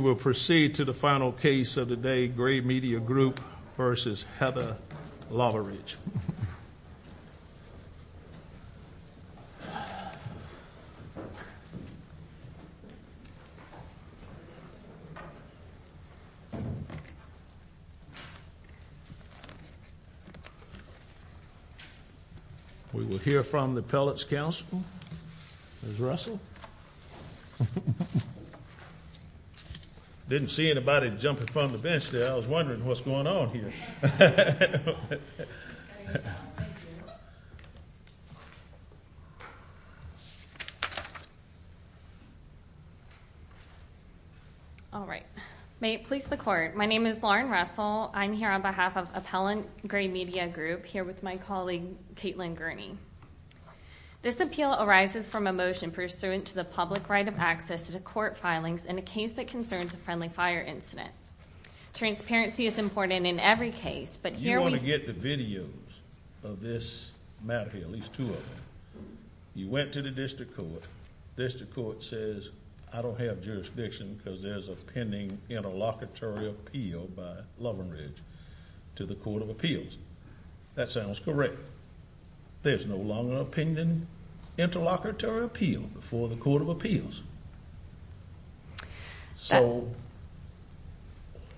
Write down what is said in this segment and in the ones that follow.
We will proceed to the final case of the day, Gray Media Group v. Heather Loveridge. We will hear from the Appellate's Counsel, Ms. Russell. I didn't see anybody jumping from the bench there. I was wondering what's going on here. All right. May it please the Court, my name is Lauren Russell. I'm here on behalf of Appellant Gray Media Group, here with my colleague, Caitlin Gurney. This appeal arises from a motion pursuant to the public right of access to court filings in a case that concerns a friendly fire incident. Transparency is important in every case, but here we... You want to get the videos of this matter, at least two of them. You went to the District Court, District Court says, I don't have jurisdiction because there's a pending interlocutory appeal by Loveridge to the Court of Appeals. That sounds correct. There's no longer a pending interlocutory appeal before the Court of Appeals. So,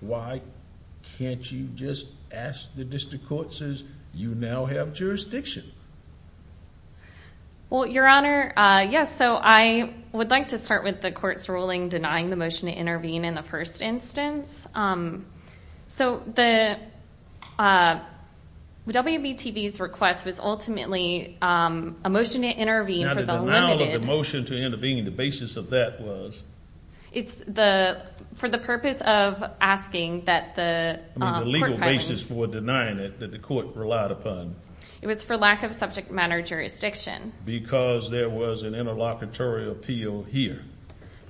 why can't you just ask the District Court, says you now have jurisdiction? Well, Your Honor, yes, so I would like to start with the Court's ruling denying the motion to intervene in the first instance. So, the WBTV's request was ultimately a motion to intervene for the limited... Now, the denial of the motion to intervene, the basis of that was... It's the, for the purpose of asking that the... I mean, the legal basis for denying it that the Court relied upon. It was for lack of subject matter jurisdiction. Because there was an interlocutory appeal here.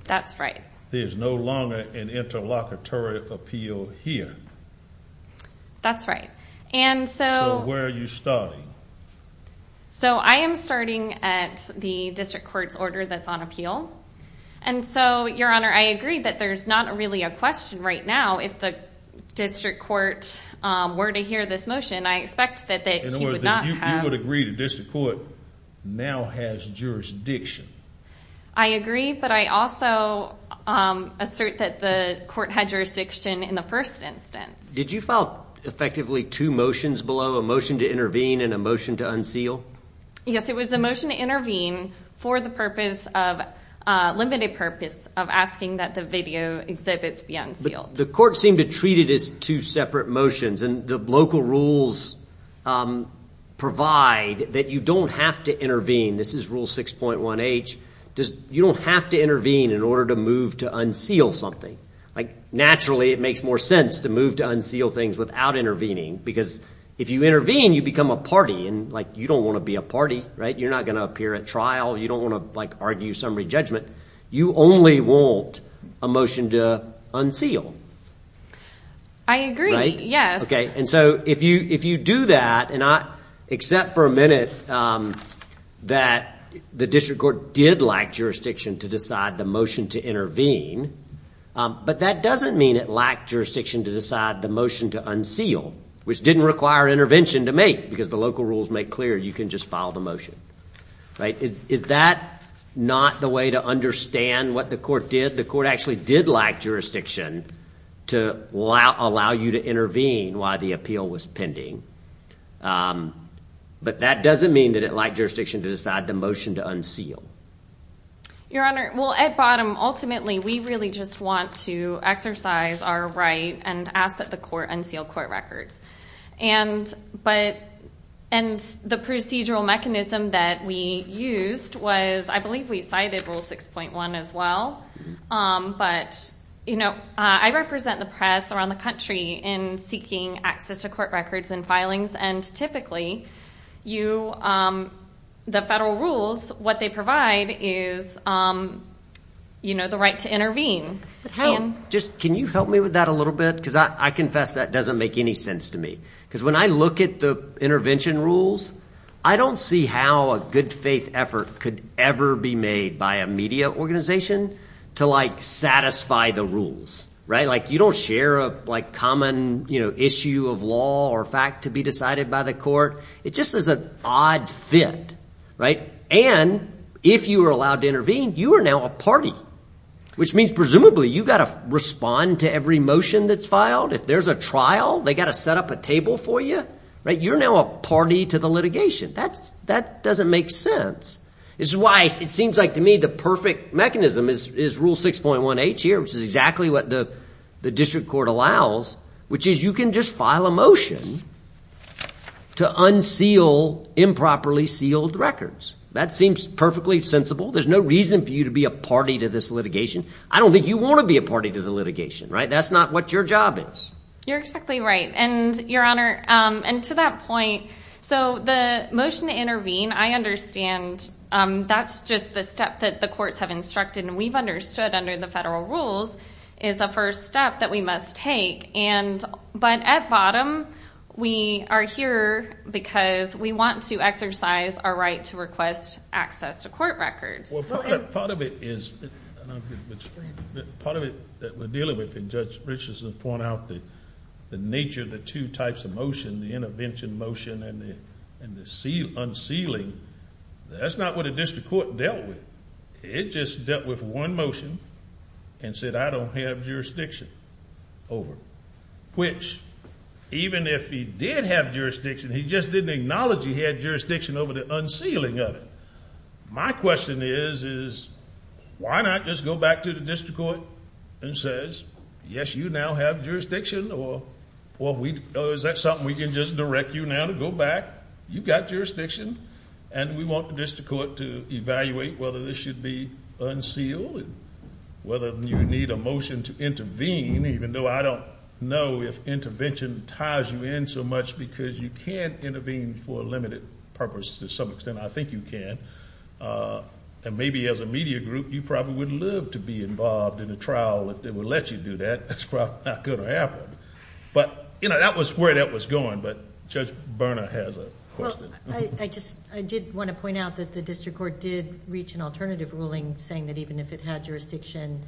That's right. There's no longer an interlocutory appeal here. That's right. And so... So, where are you starting? So, I am starting at the District Court's order that's on appeal. And so, Your Honor, I agree that there's not really a question right now if the District Court were to hear this motion. I expect that he would not have... In other words, you would agree the District Court now has jurisdiction. I agree, but I also assert that the Court had jurisdiction in the first instance. Did you file effectively two motions below, a motion to intervene and a motion to unseal? Yes, it was a motion to intervene for the purpose of... Limited purpose of asking that the video exhibits be unsealed. But the Court seemed to treat it as two separate motions. And the local rules provide that you don't have to intervene. This is Rule 6.1H. You don't have to intervene in order to move to unseal something. Naturally, it makes more sense to move to unseal things without intervening. Because if you intervene, you become a party. You don't want to be a party. You're not going to appear at trial. You don't want to argue summary judgment. You only want a motion to unseal. I agree. Yes. Okay, and so if you do that and not... Except for a minute that the District Court did lack jurisdiction to decide the motion to intervene. But that doesn't mean it lacked jurisdiction to decide the motion to unseal, which didn't require intervention to make because the local rules make clear you can just file the motion. Is that not the way to understand what the Court did? If the Court actually did lack jurisdiction to allow you to intervene while the appeal was pending. But that doesn't mean that it lacked jurisdiction to decide the motion to unseal. Your Honor, well, at bottom, ultimately, we really just want to exercise our right and ask that the Court unseal court records. And the procedural mechanism that we used was, I believe we cited Rule 6.1 as well. But, you know, I represent the press around the country in seeking access to court records and filings. And typically, the federal rules, what they provide is, you know, the right to intervene. Can you help me with that a little bit? Because I confess that doesn't make any sense to me. Because when I look at the intervention rules, I don't see how a good faith effort could ever be made by a media organization to, like, satisfy the rules. Right? Like, you don't share a, like, common issue of law or fact to be decided by the Court. It just is an odd fit. And if you are allowed to intervene, you are now a party. Which means, presumably, you've got to respond to every motion that's filed. If there's a trial, they've got to set up a table for you. Right? You're now a party to the litigation. That doesn't make sense. It's why it seems like to me the perfect mechanism is Rule 6.1H here, which is exactly what the district court allows, which is you can just file a motion to unseal improperly sealed records. That seems perfectly sensible. There's no reason for you to be a party to this litigation. I don't think you want to be a party to the litigation. Right? That's not what your job is. You're exactly right. And, Your Honor, and to that point, so the motion to intervene, I understand that's just the step that the courts have instructed, and we've understood under the federal rules is a first step that we must take. But at bottom, we are here because we want to exercise our right to request access to court records. Part of it is, part of it that we're dealing with, and Judge Richardson pointed out the nature of the two types of motion, the intervention motion and the unsealing, that's not what a district court dealt with. It just dealt with one motion and said, I don't have jurisdiction over it, which even if he did have jurisdiction, he just didn't acknowledge he had jurisdiction over the unsealing of it. My question is, is why not just go back to the district court and says, yes, you now have jurisdiction, or is that something we can just direct you now to go back? You've got jurisdiction, and we want the district court to evaluate whether this should be unsealed, whether you need a motion to intervene, even though I don't know if intervention ties you in so much, because you can't intervene for a limited purpose to some extent. I think you can. And maybe as a media group, you probably would love to be involved in a trial that would let you do that. That's probably not going to happen. That was where that was going, but Judge Berna has a question. I did want to point out that the district court did reach an alternative ruling saying that even if it had jurisdiction,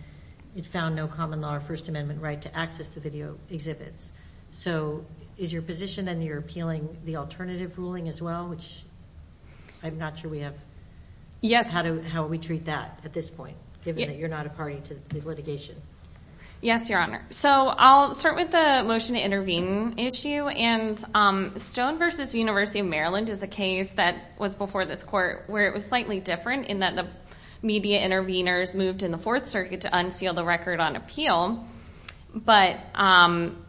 it found no common law or First Amendment right to access the video exhibits. So is your position that you're appealing the alternative ruling as well, which I'm not sure we have, how we treat that at this point, given that you're not a party to the litigation? Yes, Your Honor. So I'll start with the motion to intervene issue, and Stone v. University of Maryland is a case that was before this court where it was slightly different in that the media intervenors moved in the Fourth Circuit to unseal the record on appeal,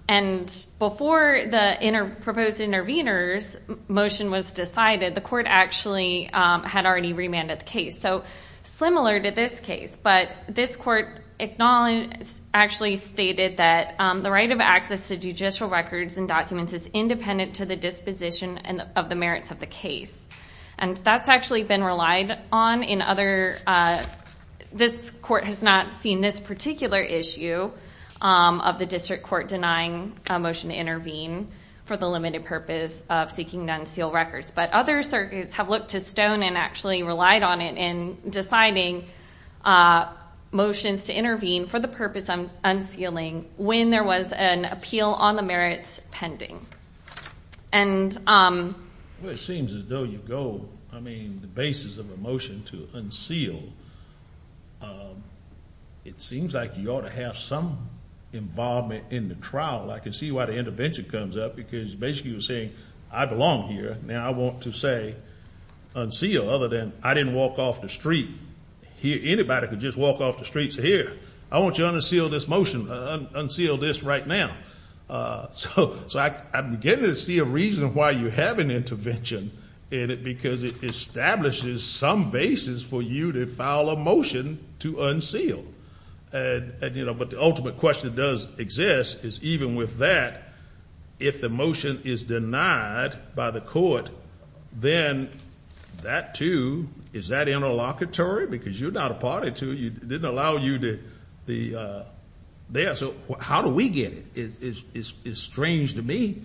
and before the proposed intervenors' motion was decided, the court actually had already remanded the case. So similar to this case, but this court actually stated that the right of access to judicial records and documents is independent to the disposition of the merits of the case, and that's actually been relied on. This court has not seen this particular issue of the district court denying a motion to intervene for the limited purpose of seeking to unseal records, but other circuits have looked to Stone and actually relied on it in deciding motions to intervene for the purpose of unsealing when there was an appeal on the merits pending. Well, it seems as though you go, I mean, the basis of a motion to unseal, it seems like you ought to have some involvement in the trial. I can see why the intervention comes up, because you're basically saying I belong here, and I want to say unseal, other than I didn't walk off the street. Anybody could just walk off the streets of here. I want you to unseal this motion, unseal this right now. So I'm beginning to see a reason why you have an intervention in it, because it establishes some basis for you to file a motion to unseal. But the ultimate question that does exist is even with that, if the motion is denied by the court, then that, too, is that interlocutory? Because you're not a party to it. It didn't allow you to be there. So how do we get it? It's strange to me,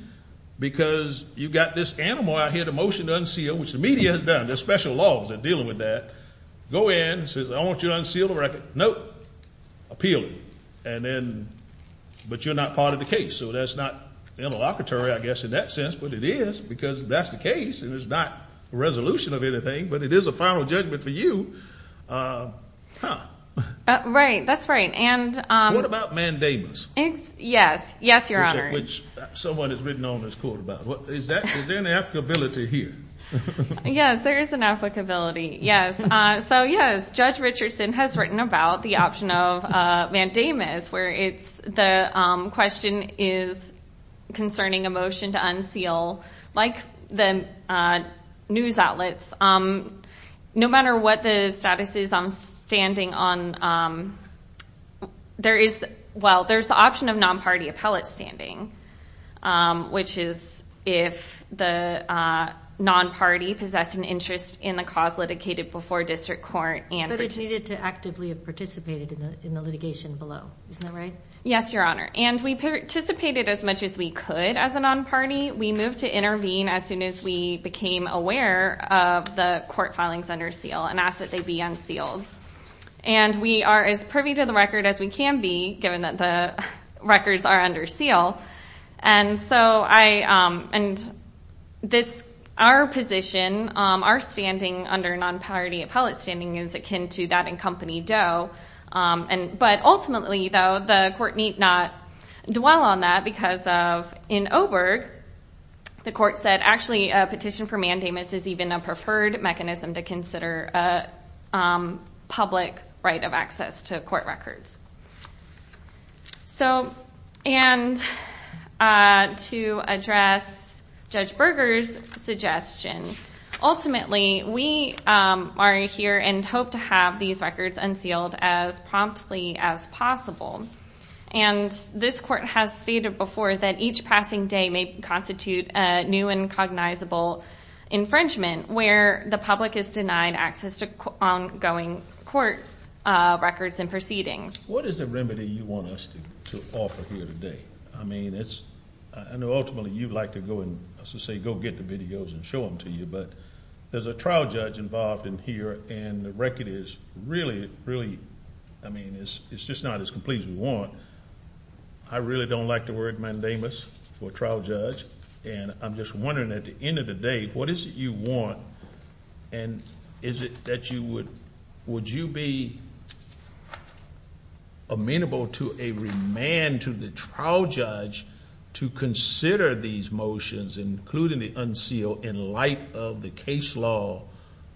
because you've got this animal out here, the motion to unseal, which the media has done. There's special laws that are dealing with that. Go in, says, I want you to unseal the record. No. Appeal. And then, but you're not part of the case, so that's not interlocutory, I guess, in that sense. But it is, because that's the case, and it's not a resolution of anything, but it is a final judgment for you. Right, that's right. What about mandamus? Yes, yes, Your Honor. Which someone has written on this court about. Is there an applicability here? Yes, there is an applicability. Yes. So, yes, Judge Richardson has written about the option of mandamus, where the question is concerning a motion to unseal. Like the news outlets, no matter what the status is on standing on, there is, well, there's the option of non-party appellate standing, which is if the non-party possessed an interest in the cause litigated before district court. But it needed to actively have participated in the litigation below. Isn't that right? Yes, Your Honor. And we participated as much as we could as a non-party. We moved to intervene as soon as we became aware of the court filings under seal and asked that they be unsealed. And we are as privy to the record as we can be, given that the records are under seal. And so I, and this, our position, our standing under non-party appellate standing is akin to that in company doe. But ultimately, though, the court need not dwell on that because of, in Oberg, the court said, actually, a petition for mandamus is even a preferred mechanism to consider a public right of access to court records. So, and to address Judge Berger's suggestion, ultimately, we are here and hope to have these records unsealed as promptly as possible. And this court has stated before that each passing day may constitute a new and cognizable infringement, where the public is denied access to ongoing court records and proceedings. What is the remedy you want us to offer here today? I mean, it's, I know ultimately you'd like to go and, as I say, go get the videos and show them to you. But there's a trial judge involved in here, and the record is really, really, I mean, it's just not as complete as we want. I really don't like the word mandamus for trial judge. And I'm just wondering, at the end of the day, what is it you want? And is it that you would, would you be amenable to a remand to the trial judge to consider these motions, including the unseal, in light of the case law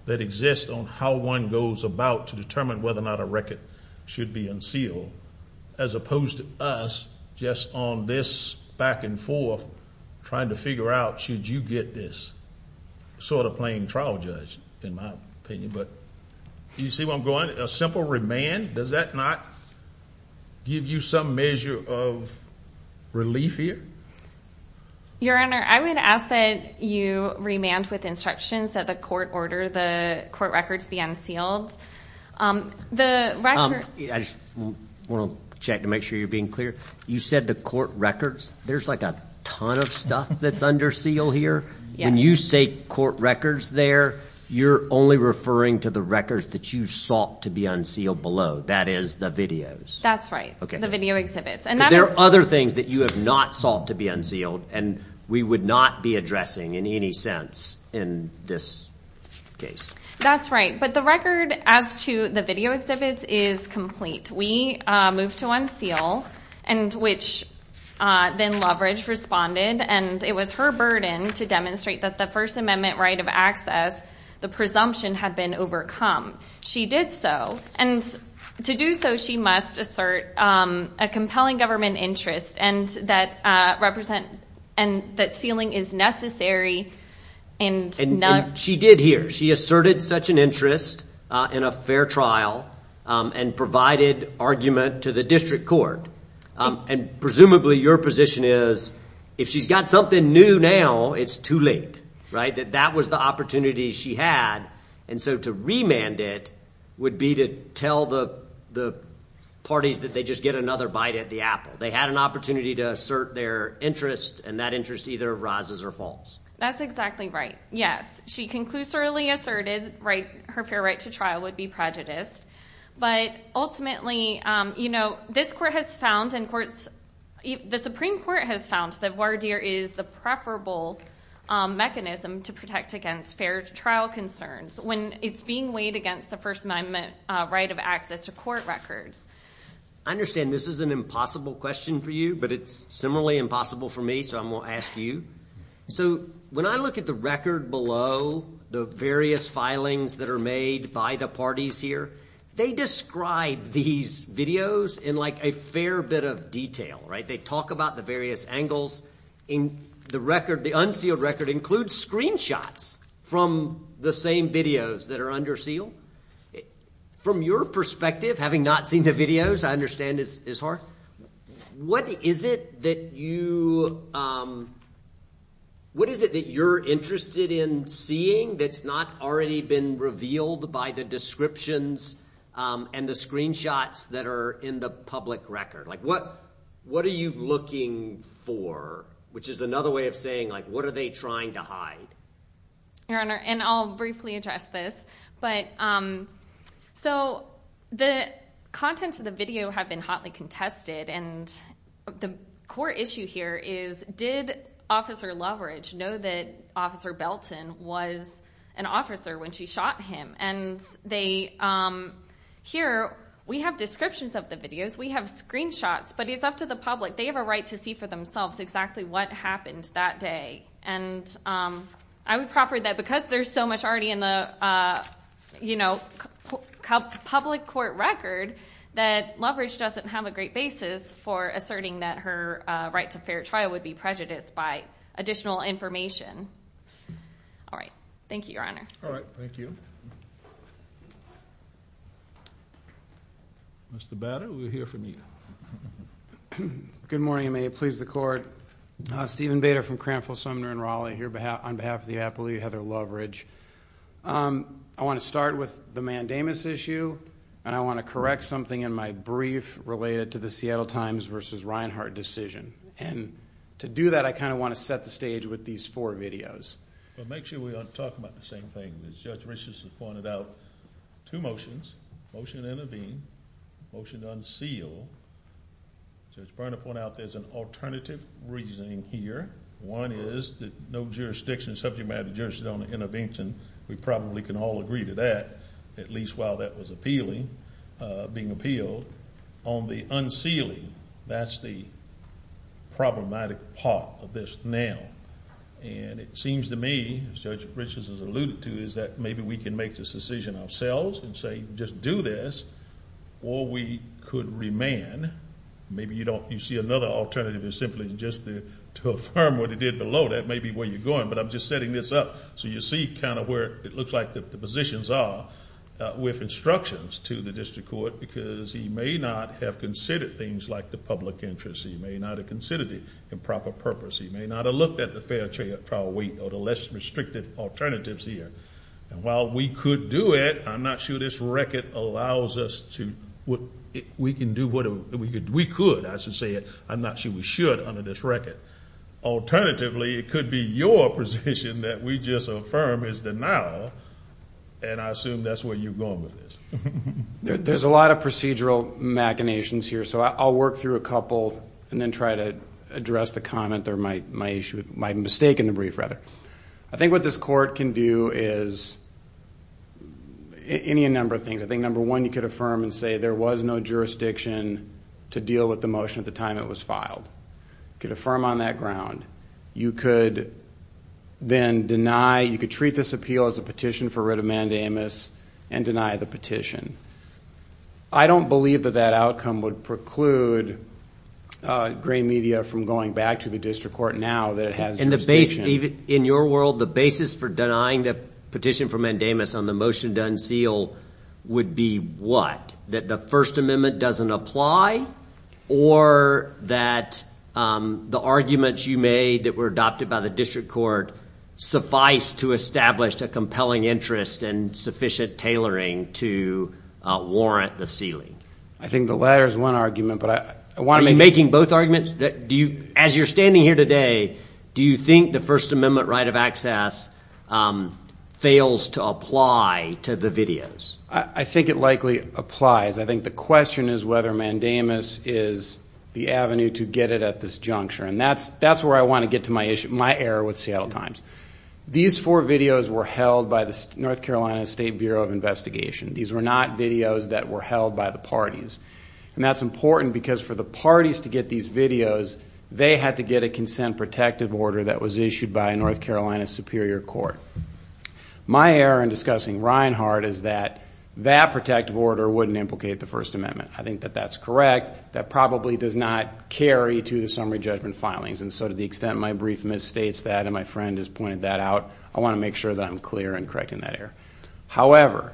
that exists on how one goes about to determine whether or not a record should be unsealed, as opposed to us just on this back and forth trying to figure out should you get this? Sort of playing trial judge, in my opinion. But do you see where I'm going? A simple remand, does that not give you some measure of relief here? Your Honor, I would ask that you remand with instructions that the court order the court records be unsealed. The record. I just want to check to make sure you're being clear. You said the court records. There's like a ton of stuff that's under seal here. When you say court records there, you're only referring to the records that you sought to be unsealed below. That is the videos. That's right. The video exhibits. There are other things that you have not sought to be unsealed, and we would not be addressing in any sense in this case. That's right. But the record as to the video exhibits is complete. We moved to unseal, which then Loveridge responded, and it was her burden to demonstrate that the First Amendment right of access, the presumption, had been overcome. She did so, and to do so she must assert a compelling government interest and that sealing is necessary. She did here. She asserted such an interest in a fair trial and provided argument to the district court. And presumably your position is if she's got something new now, it's too late, right? That that was the opportunity she had, and so to remand it would be to tell the parties that they just get another bite at the apple. They had an opportunity to assert their interest, and that interest either rises or falls. That's exactly right, yes. She conclusively asserted her fair right to trial would be prejudiced, but ultimately this court has found and the Supreme Court has found that voir dire is the preferable mechanism to protect against fair trial concerns when it's being weighed against the First Amendment right of access to court records. I understand this is an impossible question for you, but it's similarly impossible for me, so I'm going to ask you. So when I look at the record below, the various filings that are made by the parties here, they describe these videos in like a fair bit of detail, right? They talk about the various angles in the record. The unsealed record includes screenshots from the same videos that are under seal. From your perspective, having not seen the videos, I understand it's hard. What is it that you're interested in seeing that's not already been revealed by the descriptions and the screenshots that are in the public record? What are you looking for, which is another way of saying what are they trying to hide? Your Honor, and I'll briefly address this. So the contents of the video have been hotly contested, and the core issue here is did Officer Loveridge know that Officer Belton was an officer when she shot him? And here we have descriptions of the videos. We have screenshots, but it's up to the public. They have a right to see for themselves exactly what happened that day. And I would proffer that because there's so much already in the public court record that Loveridge doesn't have a great basis for asserting that her right to fair trial would be prejudiced by additional information. All right. Thank you, Your Honor. All right. Thank you. Mr. Bader, we'll hear from you. Good morning, and may it please the Court. Stephen Bader from Cranfield, Sumner, and Raleigh here on behalf of the appellee, Heather Loveridge. I want to start with the mandamus issue, and I want to correct something in my brief related to the Seattle Times versus Reinhardt decision. And to do that, I kind of want to set the stage with these four videos. Well, make sure we don't talk about the same thing. As Judge Richardson pointed out, two motions, motion to intervene, motion to unseal. Judge Burnham pointed out there's an alternative reasoning here. One is that no jurisdiction, subject matter jurisdiction on the intervention. We probably can all agree to that, at least while that was appealing, being appealed. On the unsealing, that's the problematic part of this now. And it seems to me, as Judge Richardson alluded to, is that maybe we can make this decision ourselves and say just do this. Or we could remand. Maybe you don't, you see another alternative is simply just to affirm what he did below. That may be where you're going, but I'm just setting this up so you see kind of where it looks like the positions are with instructions to the district court. Because he may not have considered things like the public interest. He may not have considered it in proper purpose. He may not have looked at the fair trial weight or the less restrictive alternatives here. And while we could do it, I'm not sure this record allows us to. We can do what we could. I should say it. I'm not sure we should under this record. Alternatively, it could be your position that we just affirm as denial, and I assume that's where you're going with this. There's a lot of procedural machinations here. So I'll work through a couple and then try to address the comment or my mistake in the brief, rather. I think what this court can do is any number of things. I think number one, you could affirm and say there was no jurisdiction to deal with the motion at the time it was filed. You could affirm on that ground. You could then deny. You could treat this appeal as a petition for writ of mandamus and deny the petition. I don't believe that that outcome would preclude gray media from going back to the district court now that it has jurisdiction. In your world, the basis for denying the petition for mandamus on the motion to unseal would be what? That the First Amendment doesn't apply? Or that the arguments you made that were adopted by the district court suffice to establish a compelling interest and sufficient tailoring to warrant the sealing? I think the latter is one argument. Are you making both arguments? As you're standing here today, do you think the First Amendment right of access fails to apply to the videos? I think it likely applies. I think the question is whether mandamus is the avenue to get it at this juncture. And that's where I want to get to my error with Seattle Times. These four videos were held by the North Carolina State Bureau of Investigation. These were not videos that were held by the parties. And that's important because for the parties to get these videos, they had to get a consent protective order that was issued by a North Carolina superior court. My error in discussing Reinhart is that that protective order wouldn't implicate the First Amendment. I think that that's correct. That probably does not carry to the summary judgment filings. And so to the extent my brief misstates that and my friend has pointed that out, I want to make sure that I'm clear in correcting that error. However,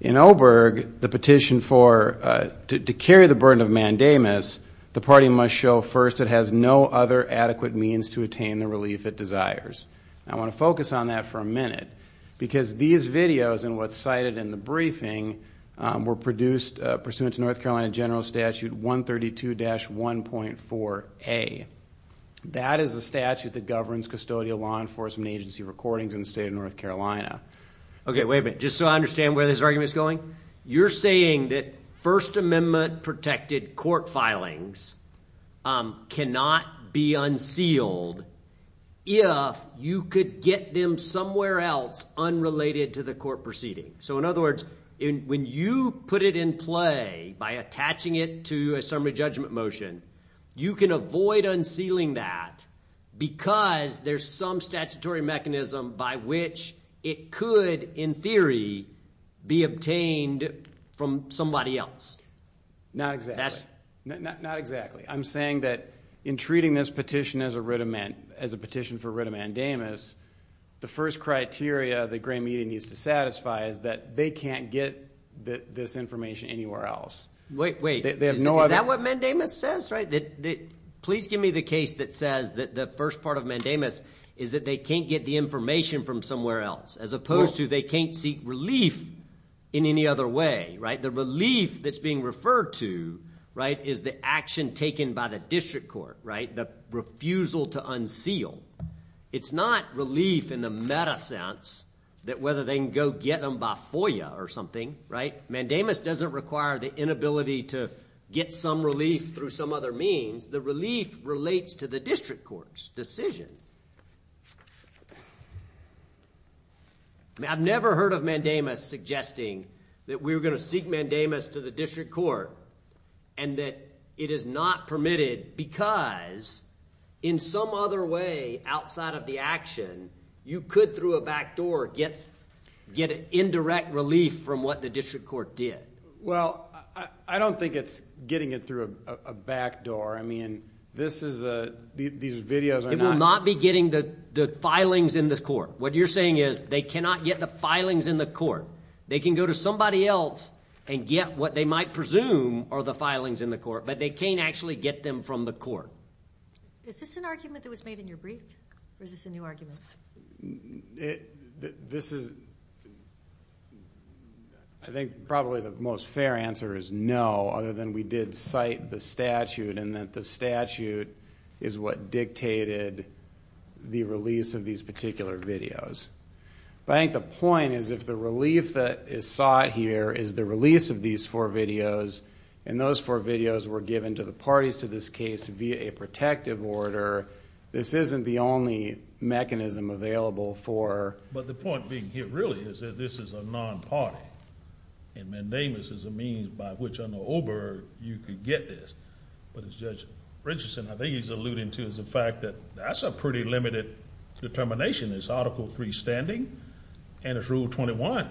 in Oberg, the petition for, to carry the burden of mandamus, the party must show first it has no other adequate means to attain the relief it desires. I want to focus on that for a minute because these videos and what's cited in the briefing were produced pursuant to North Carolina General Statute 132-1.4a. That is a statute that governs custodial law enforcement agency recordings in the state of North Carolina. Okay, wait a minute. Just so I understand where this argument is going, you're saying that First Amendment protected court filings cannot be unsealed if you could get them somewhere else unrelated to the court proceeding. So in other words, when you put it in play by attaching it to a summary judgment motion, you can avoid unsealing that because there's some statutory mechanism by which it could, in theory, be obtained from somebody else. Not exactly. Not exactly. I'm saying that in treating this petition as a petition for writ of mandamus, the first criteria the gray media needs to satisfy is that they can't get this information anywhere else. Wait, wait. Is that what mandamus says? Please give me the case that says that the first part of mandamus is that they can't get the information from somewhere else, as opposed to they can't seek relief in any other way. The relief that's being referred to is the action taken by the district court, the refusal to unseal. It's not relief in the meta sense that whether they can go get them by FOIA or something. Mandamus doesn't require the inability to get some relief through some other means. The relief relates to the district court's decision. I've never heard of mandamus suggesting that we were going to seek mandamus to the district court and that it is not permitted because in some other way outside of the action, you could through a backdoor get indirect relief from what the district court did. Well, I don't think it's getting it through a backdoor. I mean, this is a – these videos are not – It will not be getting the filings in the court. What you're saying is they cannot get the filings in the court. They can go to somebody else and get what they might presume are the filings in the court, but they can't actually get them from the court. Is this an argument that was made in your brief or is this a new argument? This is – I think probably the most fair answer is no, other than we did cite the statute and that the statute is what dictated the release of these particular videos. But I think the point is if the relief that is sought here is the release of these four videos and those four videos were given to the parties to this case via a protective order, this isn't the only mechanism available for – But the point being here really is that this is a non-party and mandamus is a means by which on the Uber you could get this. But as Judge Richardson, I think he's alluding to the fact that that's a pretty limited determination. It's Article III standing and it's Rule 21A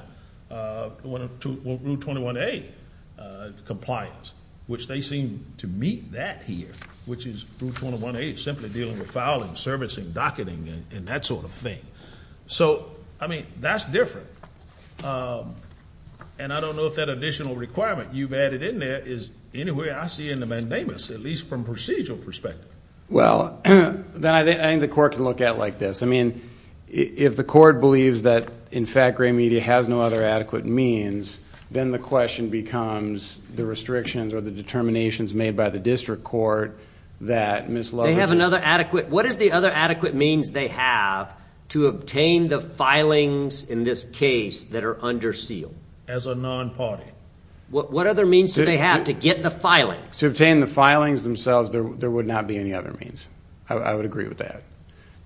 compliance, which they seem to meet that here, which is Rule 21A is simply dealing with filing, servicing, docketing, and that sort of thing. So, I mean, that's different, and I don't know if that additional requirement you've added in there is anywhere I see in the mandamus, at least from a procedural perspective. Well, then I think the court can look at it like this. I mean, if the court believes that in fact gray media has no other adequate means, then the question becomes the restrictions or the determinations made by the district court that Ms. Lovett They have another adequate – what is the other adequate means they have to obtain the filings in this case that are under seal? As a non-party. What other means do they have to get the filings? To obtain the filings themselves, there would not be any other means. I would agree with that.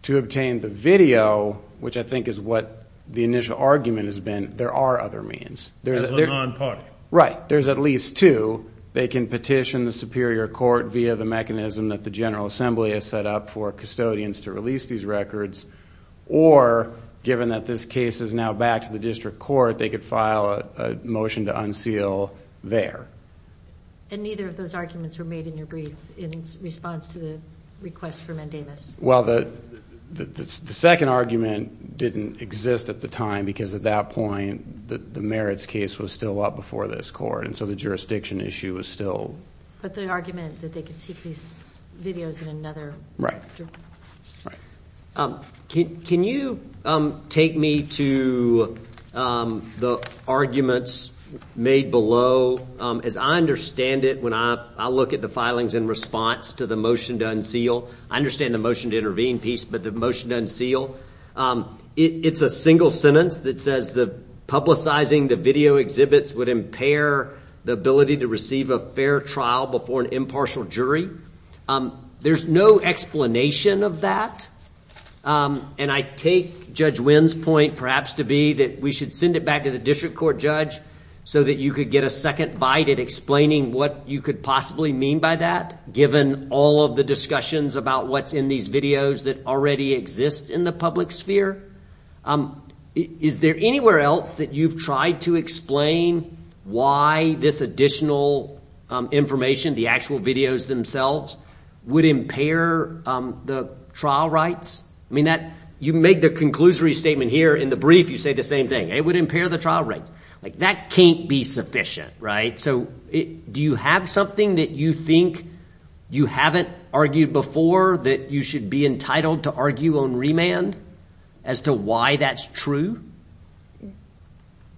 To obtain the video, which I think is what the initial argument has been, there are other means. As a non-party. Right. There's at least two. They can petition the superior court via the mechanism that the General Assembly has set up for custodians to release these records, or given that this case is now back to the district court, they could file a motion to unseal there. And neither of those arguments were made in your brief in response to the request for mandamus. Well, the second argument didn't exist at the time because at that point the merits case was still up before this court, and so the jurisdiction issue was still – But the argument that they could seek these videos in another – Right. Can you take me to the arguments made below? As I understand it, when I look at the filings in response to the motion to unseal, I understand the motion to intervene piece, but the motion to unseal, it's a single sentence that says the publicizing the video exhibits would impair the ability to receive a fair trial before an impartial jury. There's no explanation of that. And I take Judge Wynn's point perhaps to be that we should send it back to the district court judge so that you could get a second bite at explaining what you could possibly mean by that, given all of the discussions about what's in these videos that already exist in the public sphere. Is there anywhere else that you've tried to explain why this additional information, the actual videos themselves, would impair the trial rights? I mean, you make the conclusory statement here. In the brief, you say the same thing. It would impair the trial rights. That can't be sufficient, right? So do you have something that you think you haven't argued before that you should be entitled to argue on remand as to why that's true?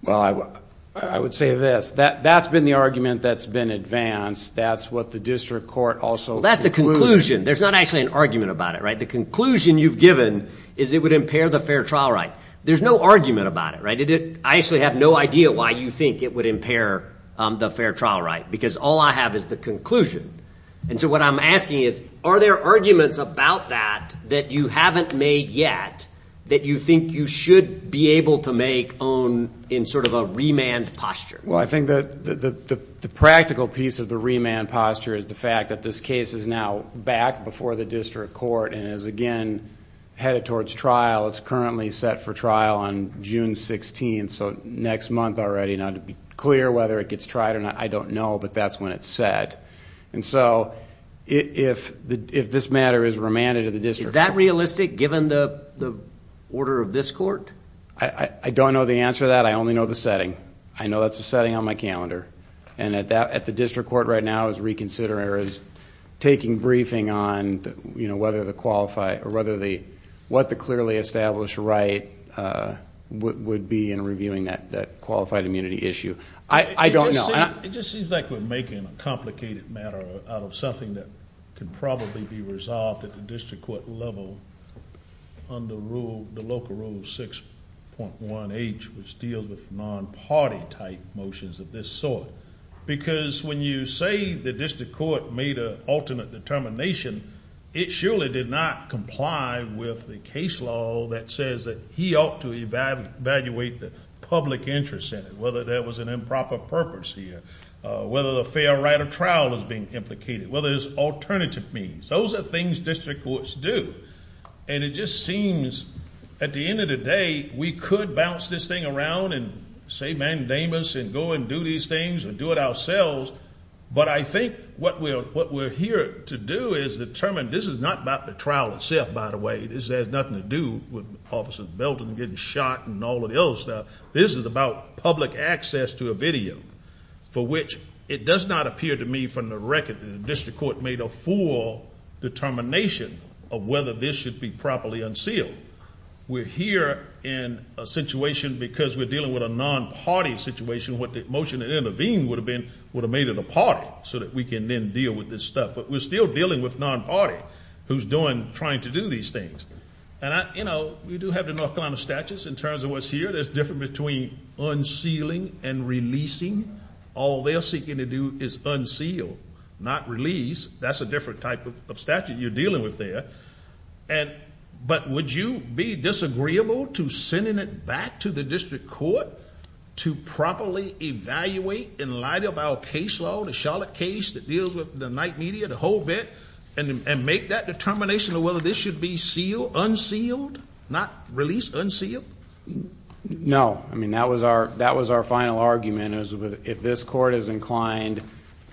Well, I would say this. That's been the argument that's been advanced. That's what the district court also concluded. Well, that's the conclusion. There's not actually an argument about it, right? The conclusion you've given is it would impair the fair trial right. There's no argument about it, right? I actually have no idea why you think it would impair the fair trial right because all I have is the conclusion. And so what I'm asking is, are there arguments about that that you haven't made yet that you think you should be able to make in sort of a remand posture? Well, I think the practical piece of the remand posture is the fact that this case is now back before the district court and is, again, headed towards trial. It's currently set for trial on June 16th, so next month already. Now, to be clear whether it gets tried or not, I don't know, but that's when it's set. And so if this matter is remanded to the district court. Is that realistic given the order of this court? I don't know the answer to that. I only know the setting. I know that's the setting on my calendar. And at the district court right now is reconsidering or is taking briefing on, you know, what the clearly established right would be in reviewing that qualified immunity issue. I don't know. It just seems like we're making a complicated matter out of something that can probably be resolved at the district court level under the local rule 6.1H, which deals with non-party type motions of this sort. Because when you say the district court made an alternate determination, it surely did not comply with the case law that says that he ought to evaluate the public interest in it, whether there was an improper purpose here, whether the fair right of trial is being implicated, whether there's alternative means. Those are things district courts do. And it just seems at the end of the day we could bounce this thing around and say mandamus and go and do these things and do it ourselves. But I think what we're here to do is determine this is not about the trial itself, by the way. This has nothing to do with Officer Belton getting shot and all of the other stuff. This is about public access to a video for which it does not appear to me from the record that the district court made a full determination of whether this should be properly unsealed. We're here in a situation because we're dealing with a non-party situation. What the motion that intervened would have been would have made it a party so that we can then deal with this stuff. But we're still dealing with non-party who's trying to do these things. And, you know, we do have the North Carolina statutes in terms of what's here. There's a difference between unsealing and releasing. All they're seeking to do is unseal, not release. That's a different type of statute you're dealing with there. But would you be disagreeable to sending it back to the district court to properly evaluate in light of our case law, the Charlotte case that deals with the night media, the whole bit, and make that determination of whether this should be sealed, unsealed, not released, unsealed? No. I mean, that was our final argument is if this court is inclined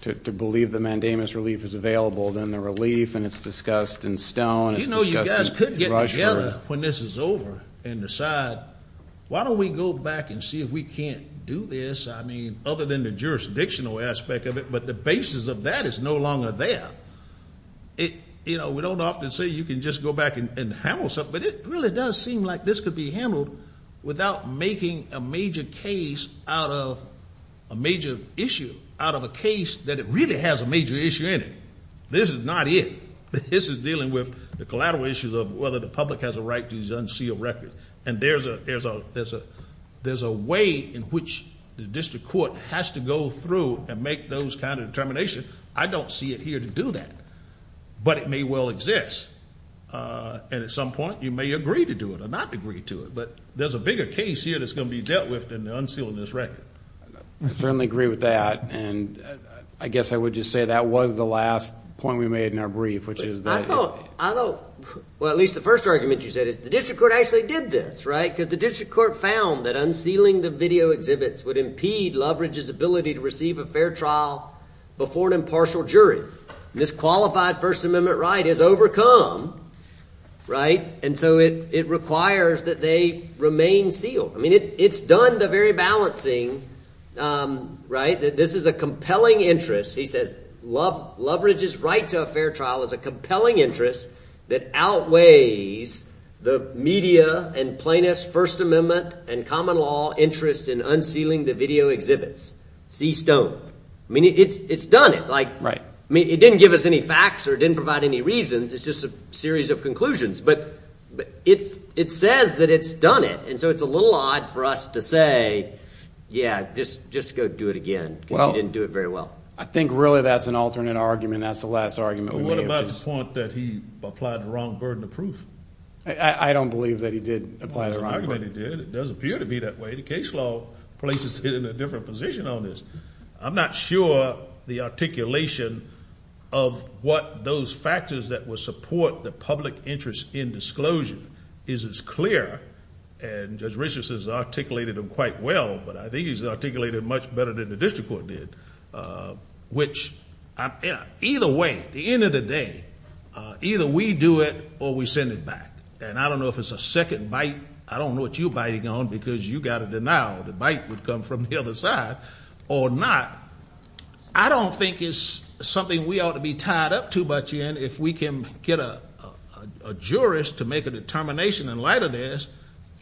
to believe the mandamus relief is available, then the relief and it's discussed in Stone, it's discussed in Rushford. You know, you guys could get together when this is over and decide why don't we go back and see if we can't do this. I mean, other than the jurisdictional aspect of it. But the basis of that is no longer there. You know, we don't often say you can just go back and handle something. But it really does seem like this could be handled without making a major case out of a major issue, out of a case that it really has a major issue in it. This is not it. This is dealing with the collateral issues of whether the public has a right to these unsealed records. And there's a way in which the district court has to go through and make those kind of determinations. I don't see it here to do that. But it may well exist. And at some point you may agree to do it or not agree to it. But there's a bigger case here that's going to be dealt with than the unsealing of this record. I certainly agree with that. And I guess I would just say that was the last point we made in our brief, which is that. I thought, well, at least the first argument you said is the district court actually did this, right? Because the district court found that unsealing the video exhibits would impede Loveridge's ability to receive a fair trial before an impartial jury. This qualified First Amendment right is overcome, right? And so it requires that they remain sealed. I mean, it's done the very balancing, right? This is a compelling interest. He says Loveridge's right to a fair trial is a compelling interest that outweighs the media and plaintiffs' First Amendment and common law interest in unsealing the video exhibits. See stone. I mean, it's done it. I mean, it didn't give us any facts or it didn't provide any reasons. It's just a series of conclusions. But it says that it's done it. And so it's a little odd for us to say, yeah, just go do it again because you didn't do it very well. I think really that's an alternate argument. That's the last argument we made. What about the point that he applied the wrong burden of proof? I don't believe that he did apply the wrong burden. It does appear to be that way. The case law places it in a different position on this. I'm not sure the articulation of what those factors that would support the public interest in disclosure is as clear. And Judge Richardson has articulated them quite well, but I think he's articulated them much better than the district court did, which either way, at the end of the day, either we do it or we send it back. And I don't know if it's a second bite. I don't know what you're biting on because you've got to denial the bite would come from the other side or not. I don't think it's something we ought to be tied up too much in. If we can get a jurist to make a determination in light of this,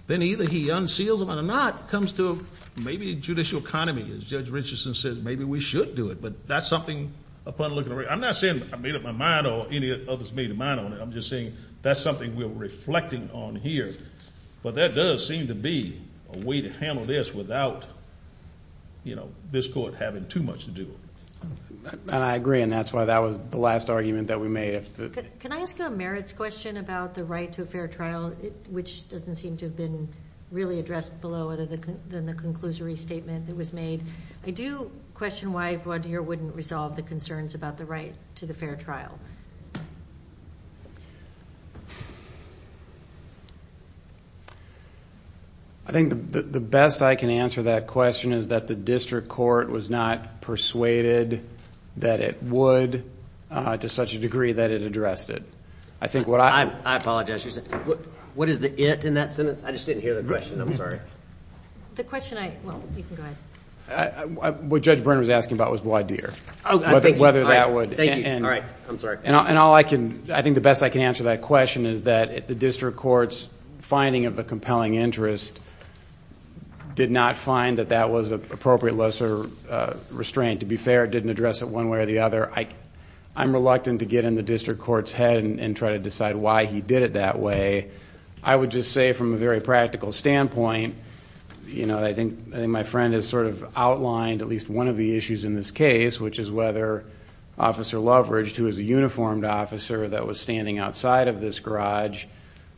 then either he unseals it or not. It comes to maybe a judicial economy, as Judge Richardson says. Maybe we should do it. But that's something upon looking around. I'm not saying I made up my mind or any of the others made a mind on it. I'm just saying that's something we're reflecting on here. But there does seem to be a way to handle this without, you know, this court having too much to do. And I agree, and that's why that was the last argument that we made. Can I ask you a merits question about the right to a fair trial, which doesn't seem to have been really addressed below other than the conclusory statement that was made? I do question why Vaudeer wouldn't resolve the concerns about the right to the fair trial. I think the best I can answer that question is that the district court was not persuaded that it would, to such a degree that it addressed it. I apologize. What is the it in that sentence? I just didn't hear the question. I'm sorry. The question I, well, you can go ahead. What Judge Byrne was asking about was Vaudeer, whether that would. All right. I'm sorry. And all I can, I think the best I can answer that question is that the district court's finding of the compelling interest did not find that that was an appropriate lesser restraint. To be fair, it didn't address it one way or the other. I'm reluctant to get in the district court's head and try to decide why he did it that way. I would just say from a very practical standpoint, you know, I think my friend has sort of outlined at least one of the issues in this case, which is whether Officer Loveridge, who is a uniformed officer that was standing outside of this garage,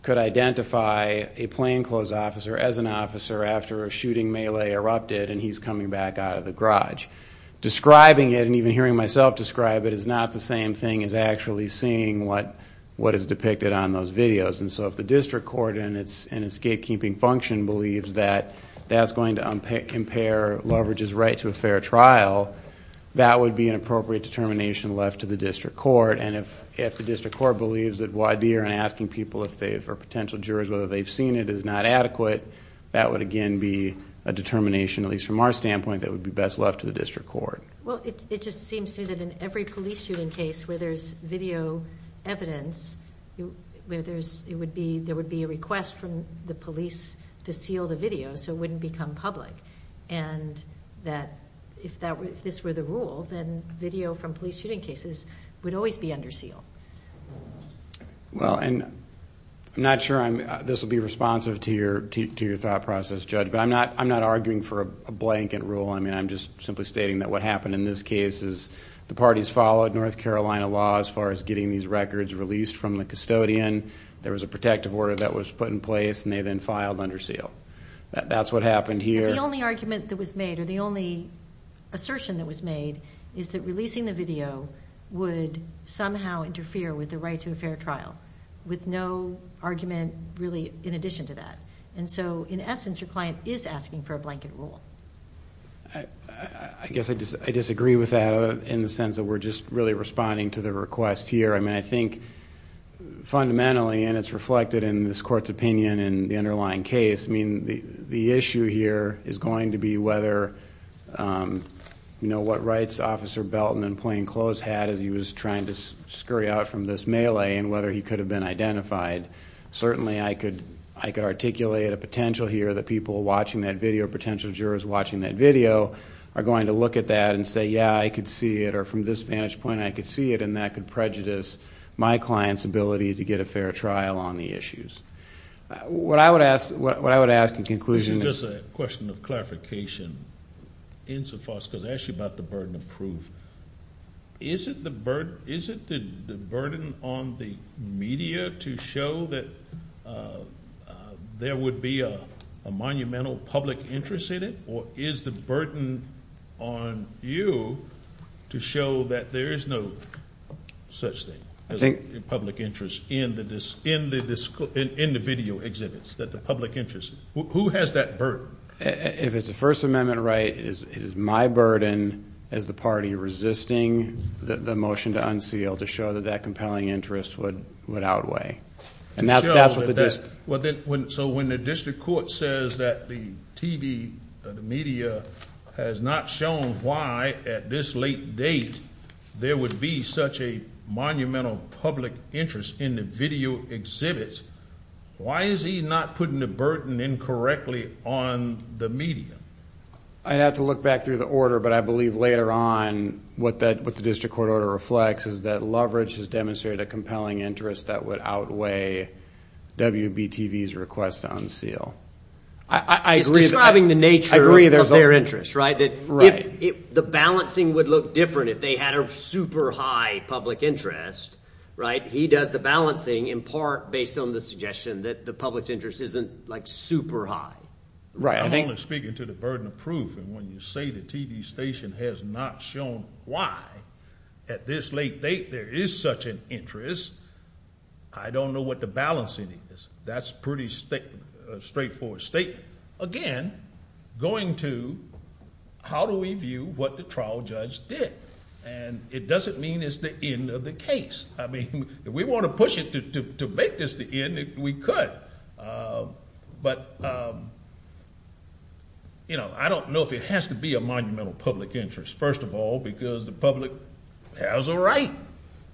could identify a plainclothes officer as an officer after a shooting melee erupted and he's coming back out of the garage. Describing it, and even hearing myself describe it, is not the same thing as actually seeing what is depicted on those videos. And so if the district court, in its gatekeeping function, believes that that's going to impair Loveridge's right to a fair trial, that would be an appropriate determination left to the district court. And if the district court believes that Vaudeer and asking people, or potential jurors, whether they've seen it is not adequate, that would again be a determination, at least from our standpoint, that would be best left to the district court. Well, it just seems to me that in every police shooting case where there's video evidence, there would be a request from the police to seal the video so it wouldn't become public. And that if this were the rule, then video from police shooting cases would always be under seal. Well, and I'm not sure this will be responsive to your thought process, Judge, but I'm not arguing for a blanket rule. I'm just simply stating that what happened in this case is the parties followed North Carolina law as far as getting these records released from the custodian. There was a protective order that was put in place, and they then filed under seal. That's what happened here. The only argument that was made, or the only assertion that was made, is that releasing the video would somehow interfere with the right to a fair trial, with no argument really in addition to that. And so, in essence, your client is asking for a blanket rule. I guess I disagree with that in the sense that we're just really responding to the request here. I mean, I think fundamentally, and it's reflected in this court's opinion in the underlying case, I mean, the issue here is going to be whether, you know, what rights Officer Belton in plain clothes had as he was trying to scurry out from this melee and whether he could have been identified. Certainly, I could articulate a potential here that people watching that video, potential jurors watching that video, are going to look at that and say, yeah, I could see it, or from this vantage point, I could see it, and that could prejudice my client's ability to get a fair trial on the issues. What I would ask in conclusion is... This is just a question of clarification insofar as it's actually about the burden of proof. Is it the burden on the media to show that there would be a monumental public interest in it, or is the burden on you to show that there is no such thing as a public interest in the video exhibits, that the public interest? Who has that burden? If it's a First Amendment right, it is my burden as the party resisting the motion to unseal to show that that compelling interest would outweigh. And that's what the district... So when the district court says that the TV, the media, has not shown why at this late date there would be such a monumental public interest in the video exhibits, why is he not putting the burden incorrectly on the media? I'd have to look back through the order, but I believe later on what the district court order reflects is that Loveridge has demonstrated a compelling interest that would outweigh WBTV's request to unseal. I agree. It's describing the nature of their interest, right? Right. The balancing would look different if they had a super high public interest, right? He does the balancing in part based on the suggestion that the public's interest isn't, like, super high. Right. I'm only speaking to the burden of proof. And when you say the TV station has not shown why at this late date there is such an interest, I don't know what the balancing is. That's a pretty straightforward statement. Again, going to how do we view what the trial judge did? And it doesn't mean it's the end of the case. I mean, if we want to push it to make this the end, we could. But, you know, I don't know if it has to be a monumental public interest, first of all, because the public has a right.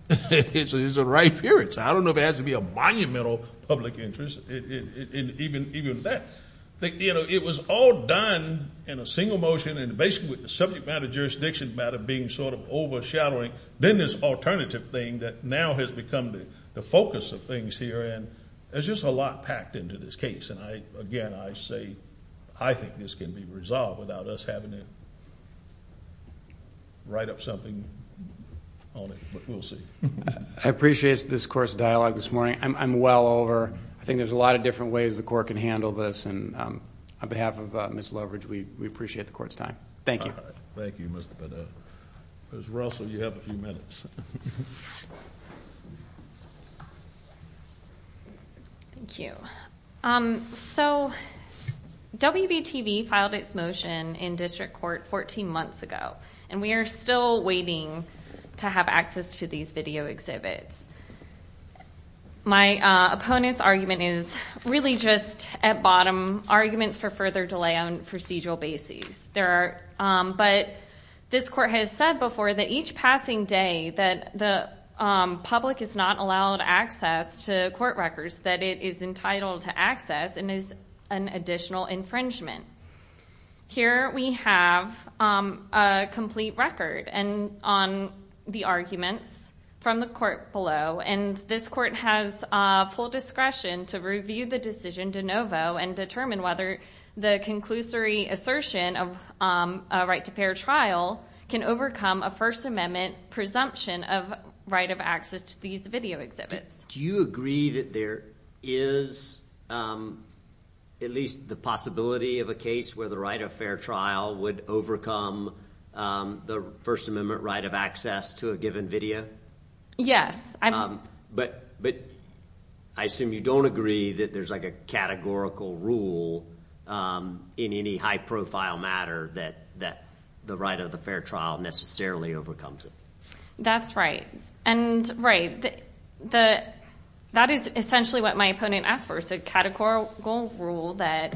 It's a right period. So I don't know if it has to be a monumental public interest in even that. You know, it was all done in a single motion, and basically with the subject matter, jurisdiction matter being sort of overshadowing, then this alternative thing that now has become the focus of things here, and there's just a lot packed into this case. And, again, I say I think this can be resolved without us having to write up something on it. But we'll see. I appreciate this court's dialogue this morning. I'm well over. I think there's a lot of different ways the court can handle this. And on behalf of Ms. Loveridge, we appreciate the court's time. Thank you. Thank you, Mr. Bideau. Ms. Russell, you have a few minutes. Thank you. So WBTV filed its motion in district court 14 months ago, and we are still waiting to have access to these video exhibits. My opponent's argument is really just at bottom, arguments for further delay on procedural basis. But this court has said before that each passing day that the public is not allowed access to court records, that it is entitled to access and is an additional infringement. Here we have a complete record on the arguments from the court below, and this court has full discretion to review the decision de novo and determine whether the conclusory assertion of a right-to-pair trial can overcome a First Amendment presumption of right of access to these video exhibits. Do you agree that there is at least the possibility of a case where the right-of-fair trial would overcome the First Amendment right of access to a given video? Yes. But I assume you don't agree that there's like a categorical rule in any high-profile matter that the right-of-the-fair trial necessarily overcomes it. That's right. That is essentially what my opponent asked for, a categorical rule that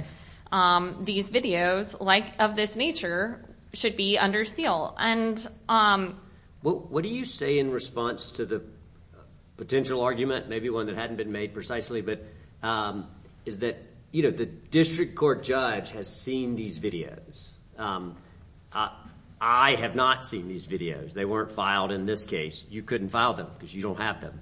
these videos, like of this nature, should be under seal. What do you say in response to the potential argument, maybe one that hadn't been made precisely, but is that the district court judge has seen these videos. I have not seen these videos. They weren't filed in this case. You couldn't file them because you don't have them,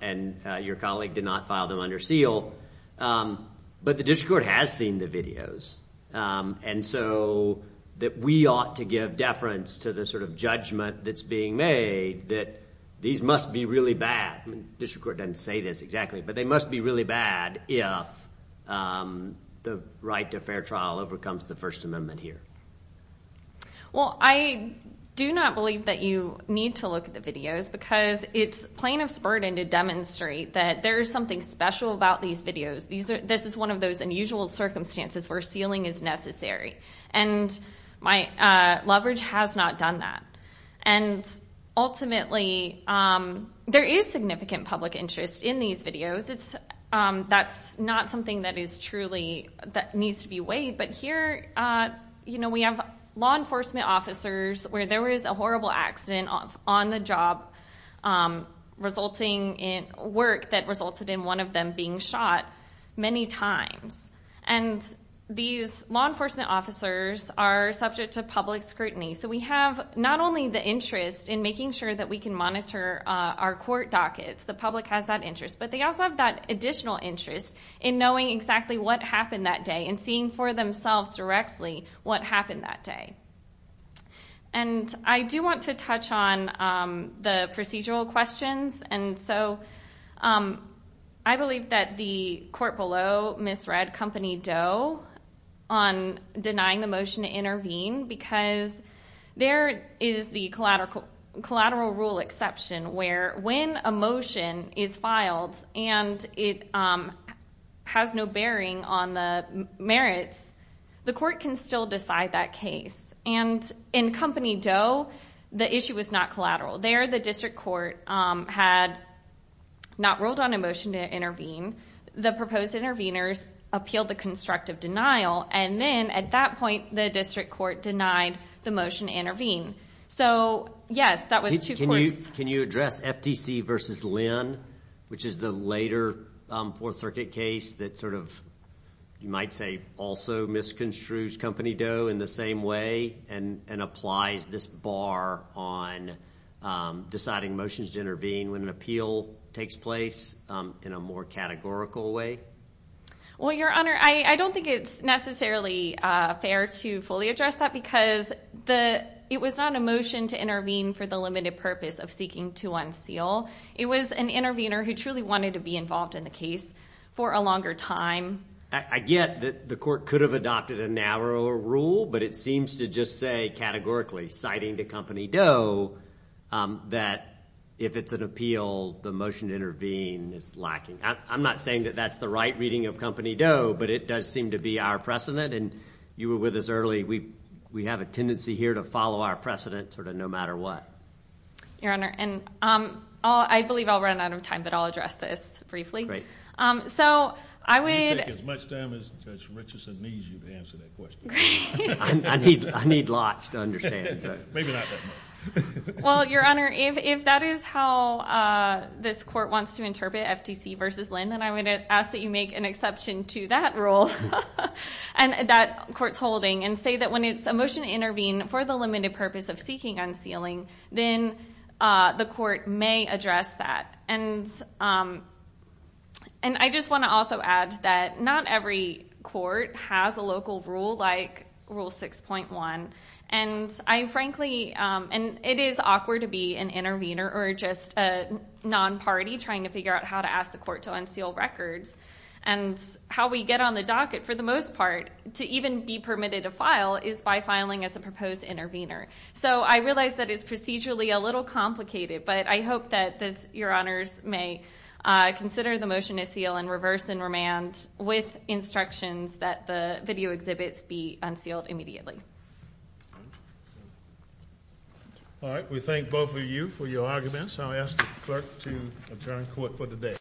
and your colleague did not file them under seal. But the district court has seen the videos, and so that we ought to give deference to the sort of judgment that's being made that these must be really bad. The district court doesn't say this exactly, but they must be really bad if the right-to-fair trial overcomes the First Amendment here. Well, I do not believe that you need to look at the videos because it's plaintiff's burden to demonstrate that there is something special about these videos. This is one of those unusual circumstances where sealing is necessary, and my leverage has not done that. And ultimately, there is significant public interest in these videos. That's not something that needs to be weighed, but here we have law enforcement officers where there was a horrible accident on the job resulting in work that resulted in one of them being shot many times, and these law enforcement officers are subject to public scrutiny. So we have not only the interest in making sure that we can monitor our court dockets. The public has that interest, but they also have that additional interest in knowing exactly what happened that day and seeing for themselves directly what happened that day. And I do want to touch on the procedural questions, and so I believe that the court below misread Company Doe on denying the motion to intervene because there is the collateral rule exception where when a motion is filed and it has no bearing on the merits, the court can still decide that case. And in Company Doe, the issue was not collateral. There the district court had not rolled on a motion to intervene. The proposed interveners appealed the constructive denial, and then at that point the district court denied the motion to intervene. So, yes, that was two courts. Ruth, can you address FTC versus Lynn, which is the later Fourth Circuit case that sort of, you might say, also misconstrues Company Doe in the same way and applies this bar on deciding motions to intervene when an appeal takes place in a more categorical way? Well, Your Honor, I don't think it's necessarily fair to fully address that because it was not a motion to intervene for the limited purpose of seeking to unseal. It was an intervener who truly wanted to be involved in the case for a longer time. I get that the court could have adopted a narrower rule, but it seems to just say categorically, citing to Company Doe, that if it's an appeal, the motion to intervene is lacking. I'm not saying that that's the right reading of Company Doe, but it does seem to be our precedent, and you were with us early. We have a tendency here to follow our precedent sort of no matter what. Your Honor, and I believe I'll run out of time, but I'll address this briefly. So I would— You take as much time as Judge Richardson needs you to answer that question. Great. I need lots to understand. Maybe not that much. Well, Your Honor, if that is how this court wants to interpret FTC versus Lynn, then I would ask that you make an exception to that rule that court's holding and say that when it's a motion to intervene for the limited purpose of seeking unsealing, then the court may address that. And I just want to also add that not every court has a local rule like Rule 6.1. And I frankly—and it is awkward to be an intervener or just a non-party trying to figure out how to ask the court to unseal records. And how we get on the docket for the most part to even be permitted to file is by filing as a proposed intervener. So I realize that it's procedurally a little complicated, but I hope that Your Honors may consider the motion to seal in reverse and remand with instructions that the video exhibits be unsealed immediately. All right. We thank both of you for your arguments. I'll ask the clerk to adjourn court for the day.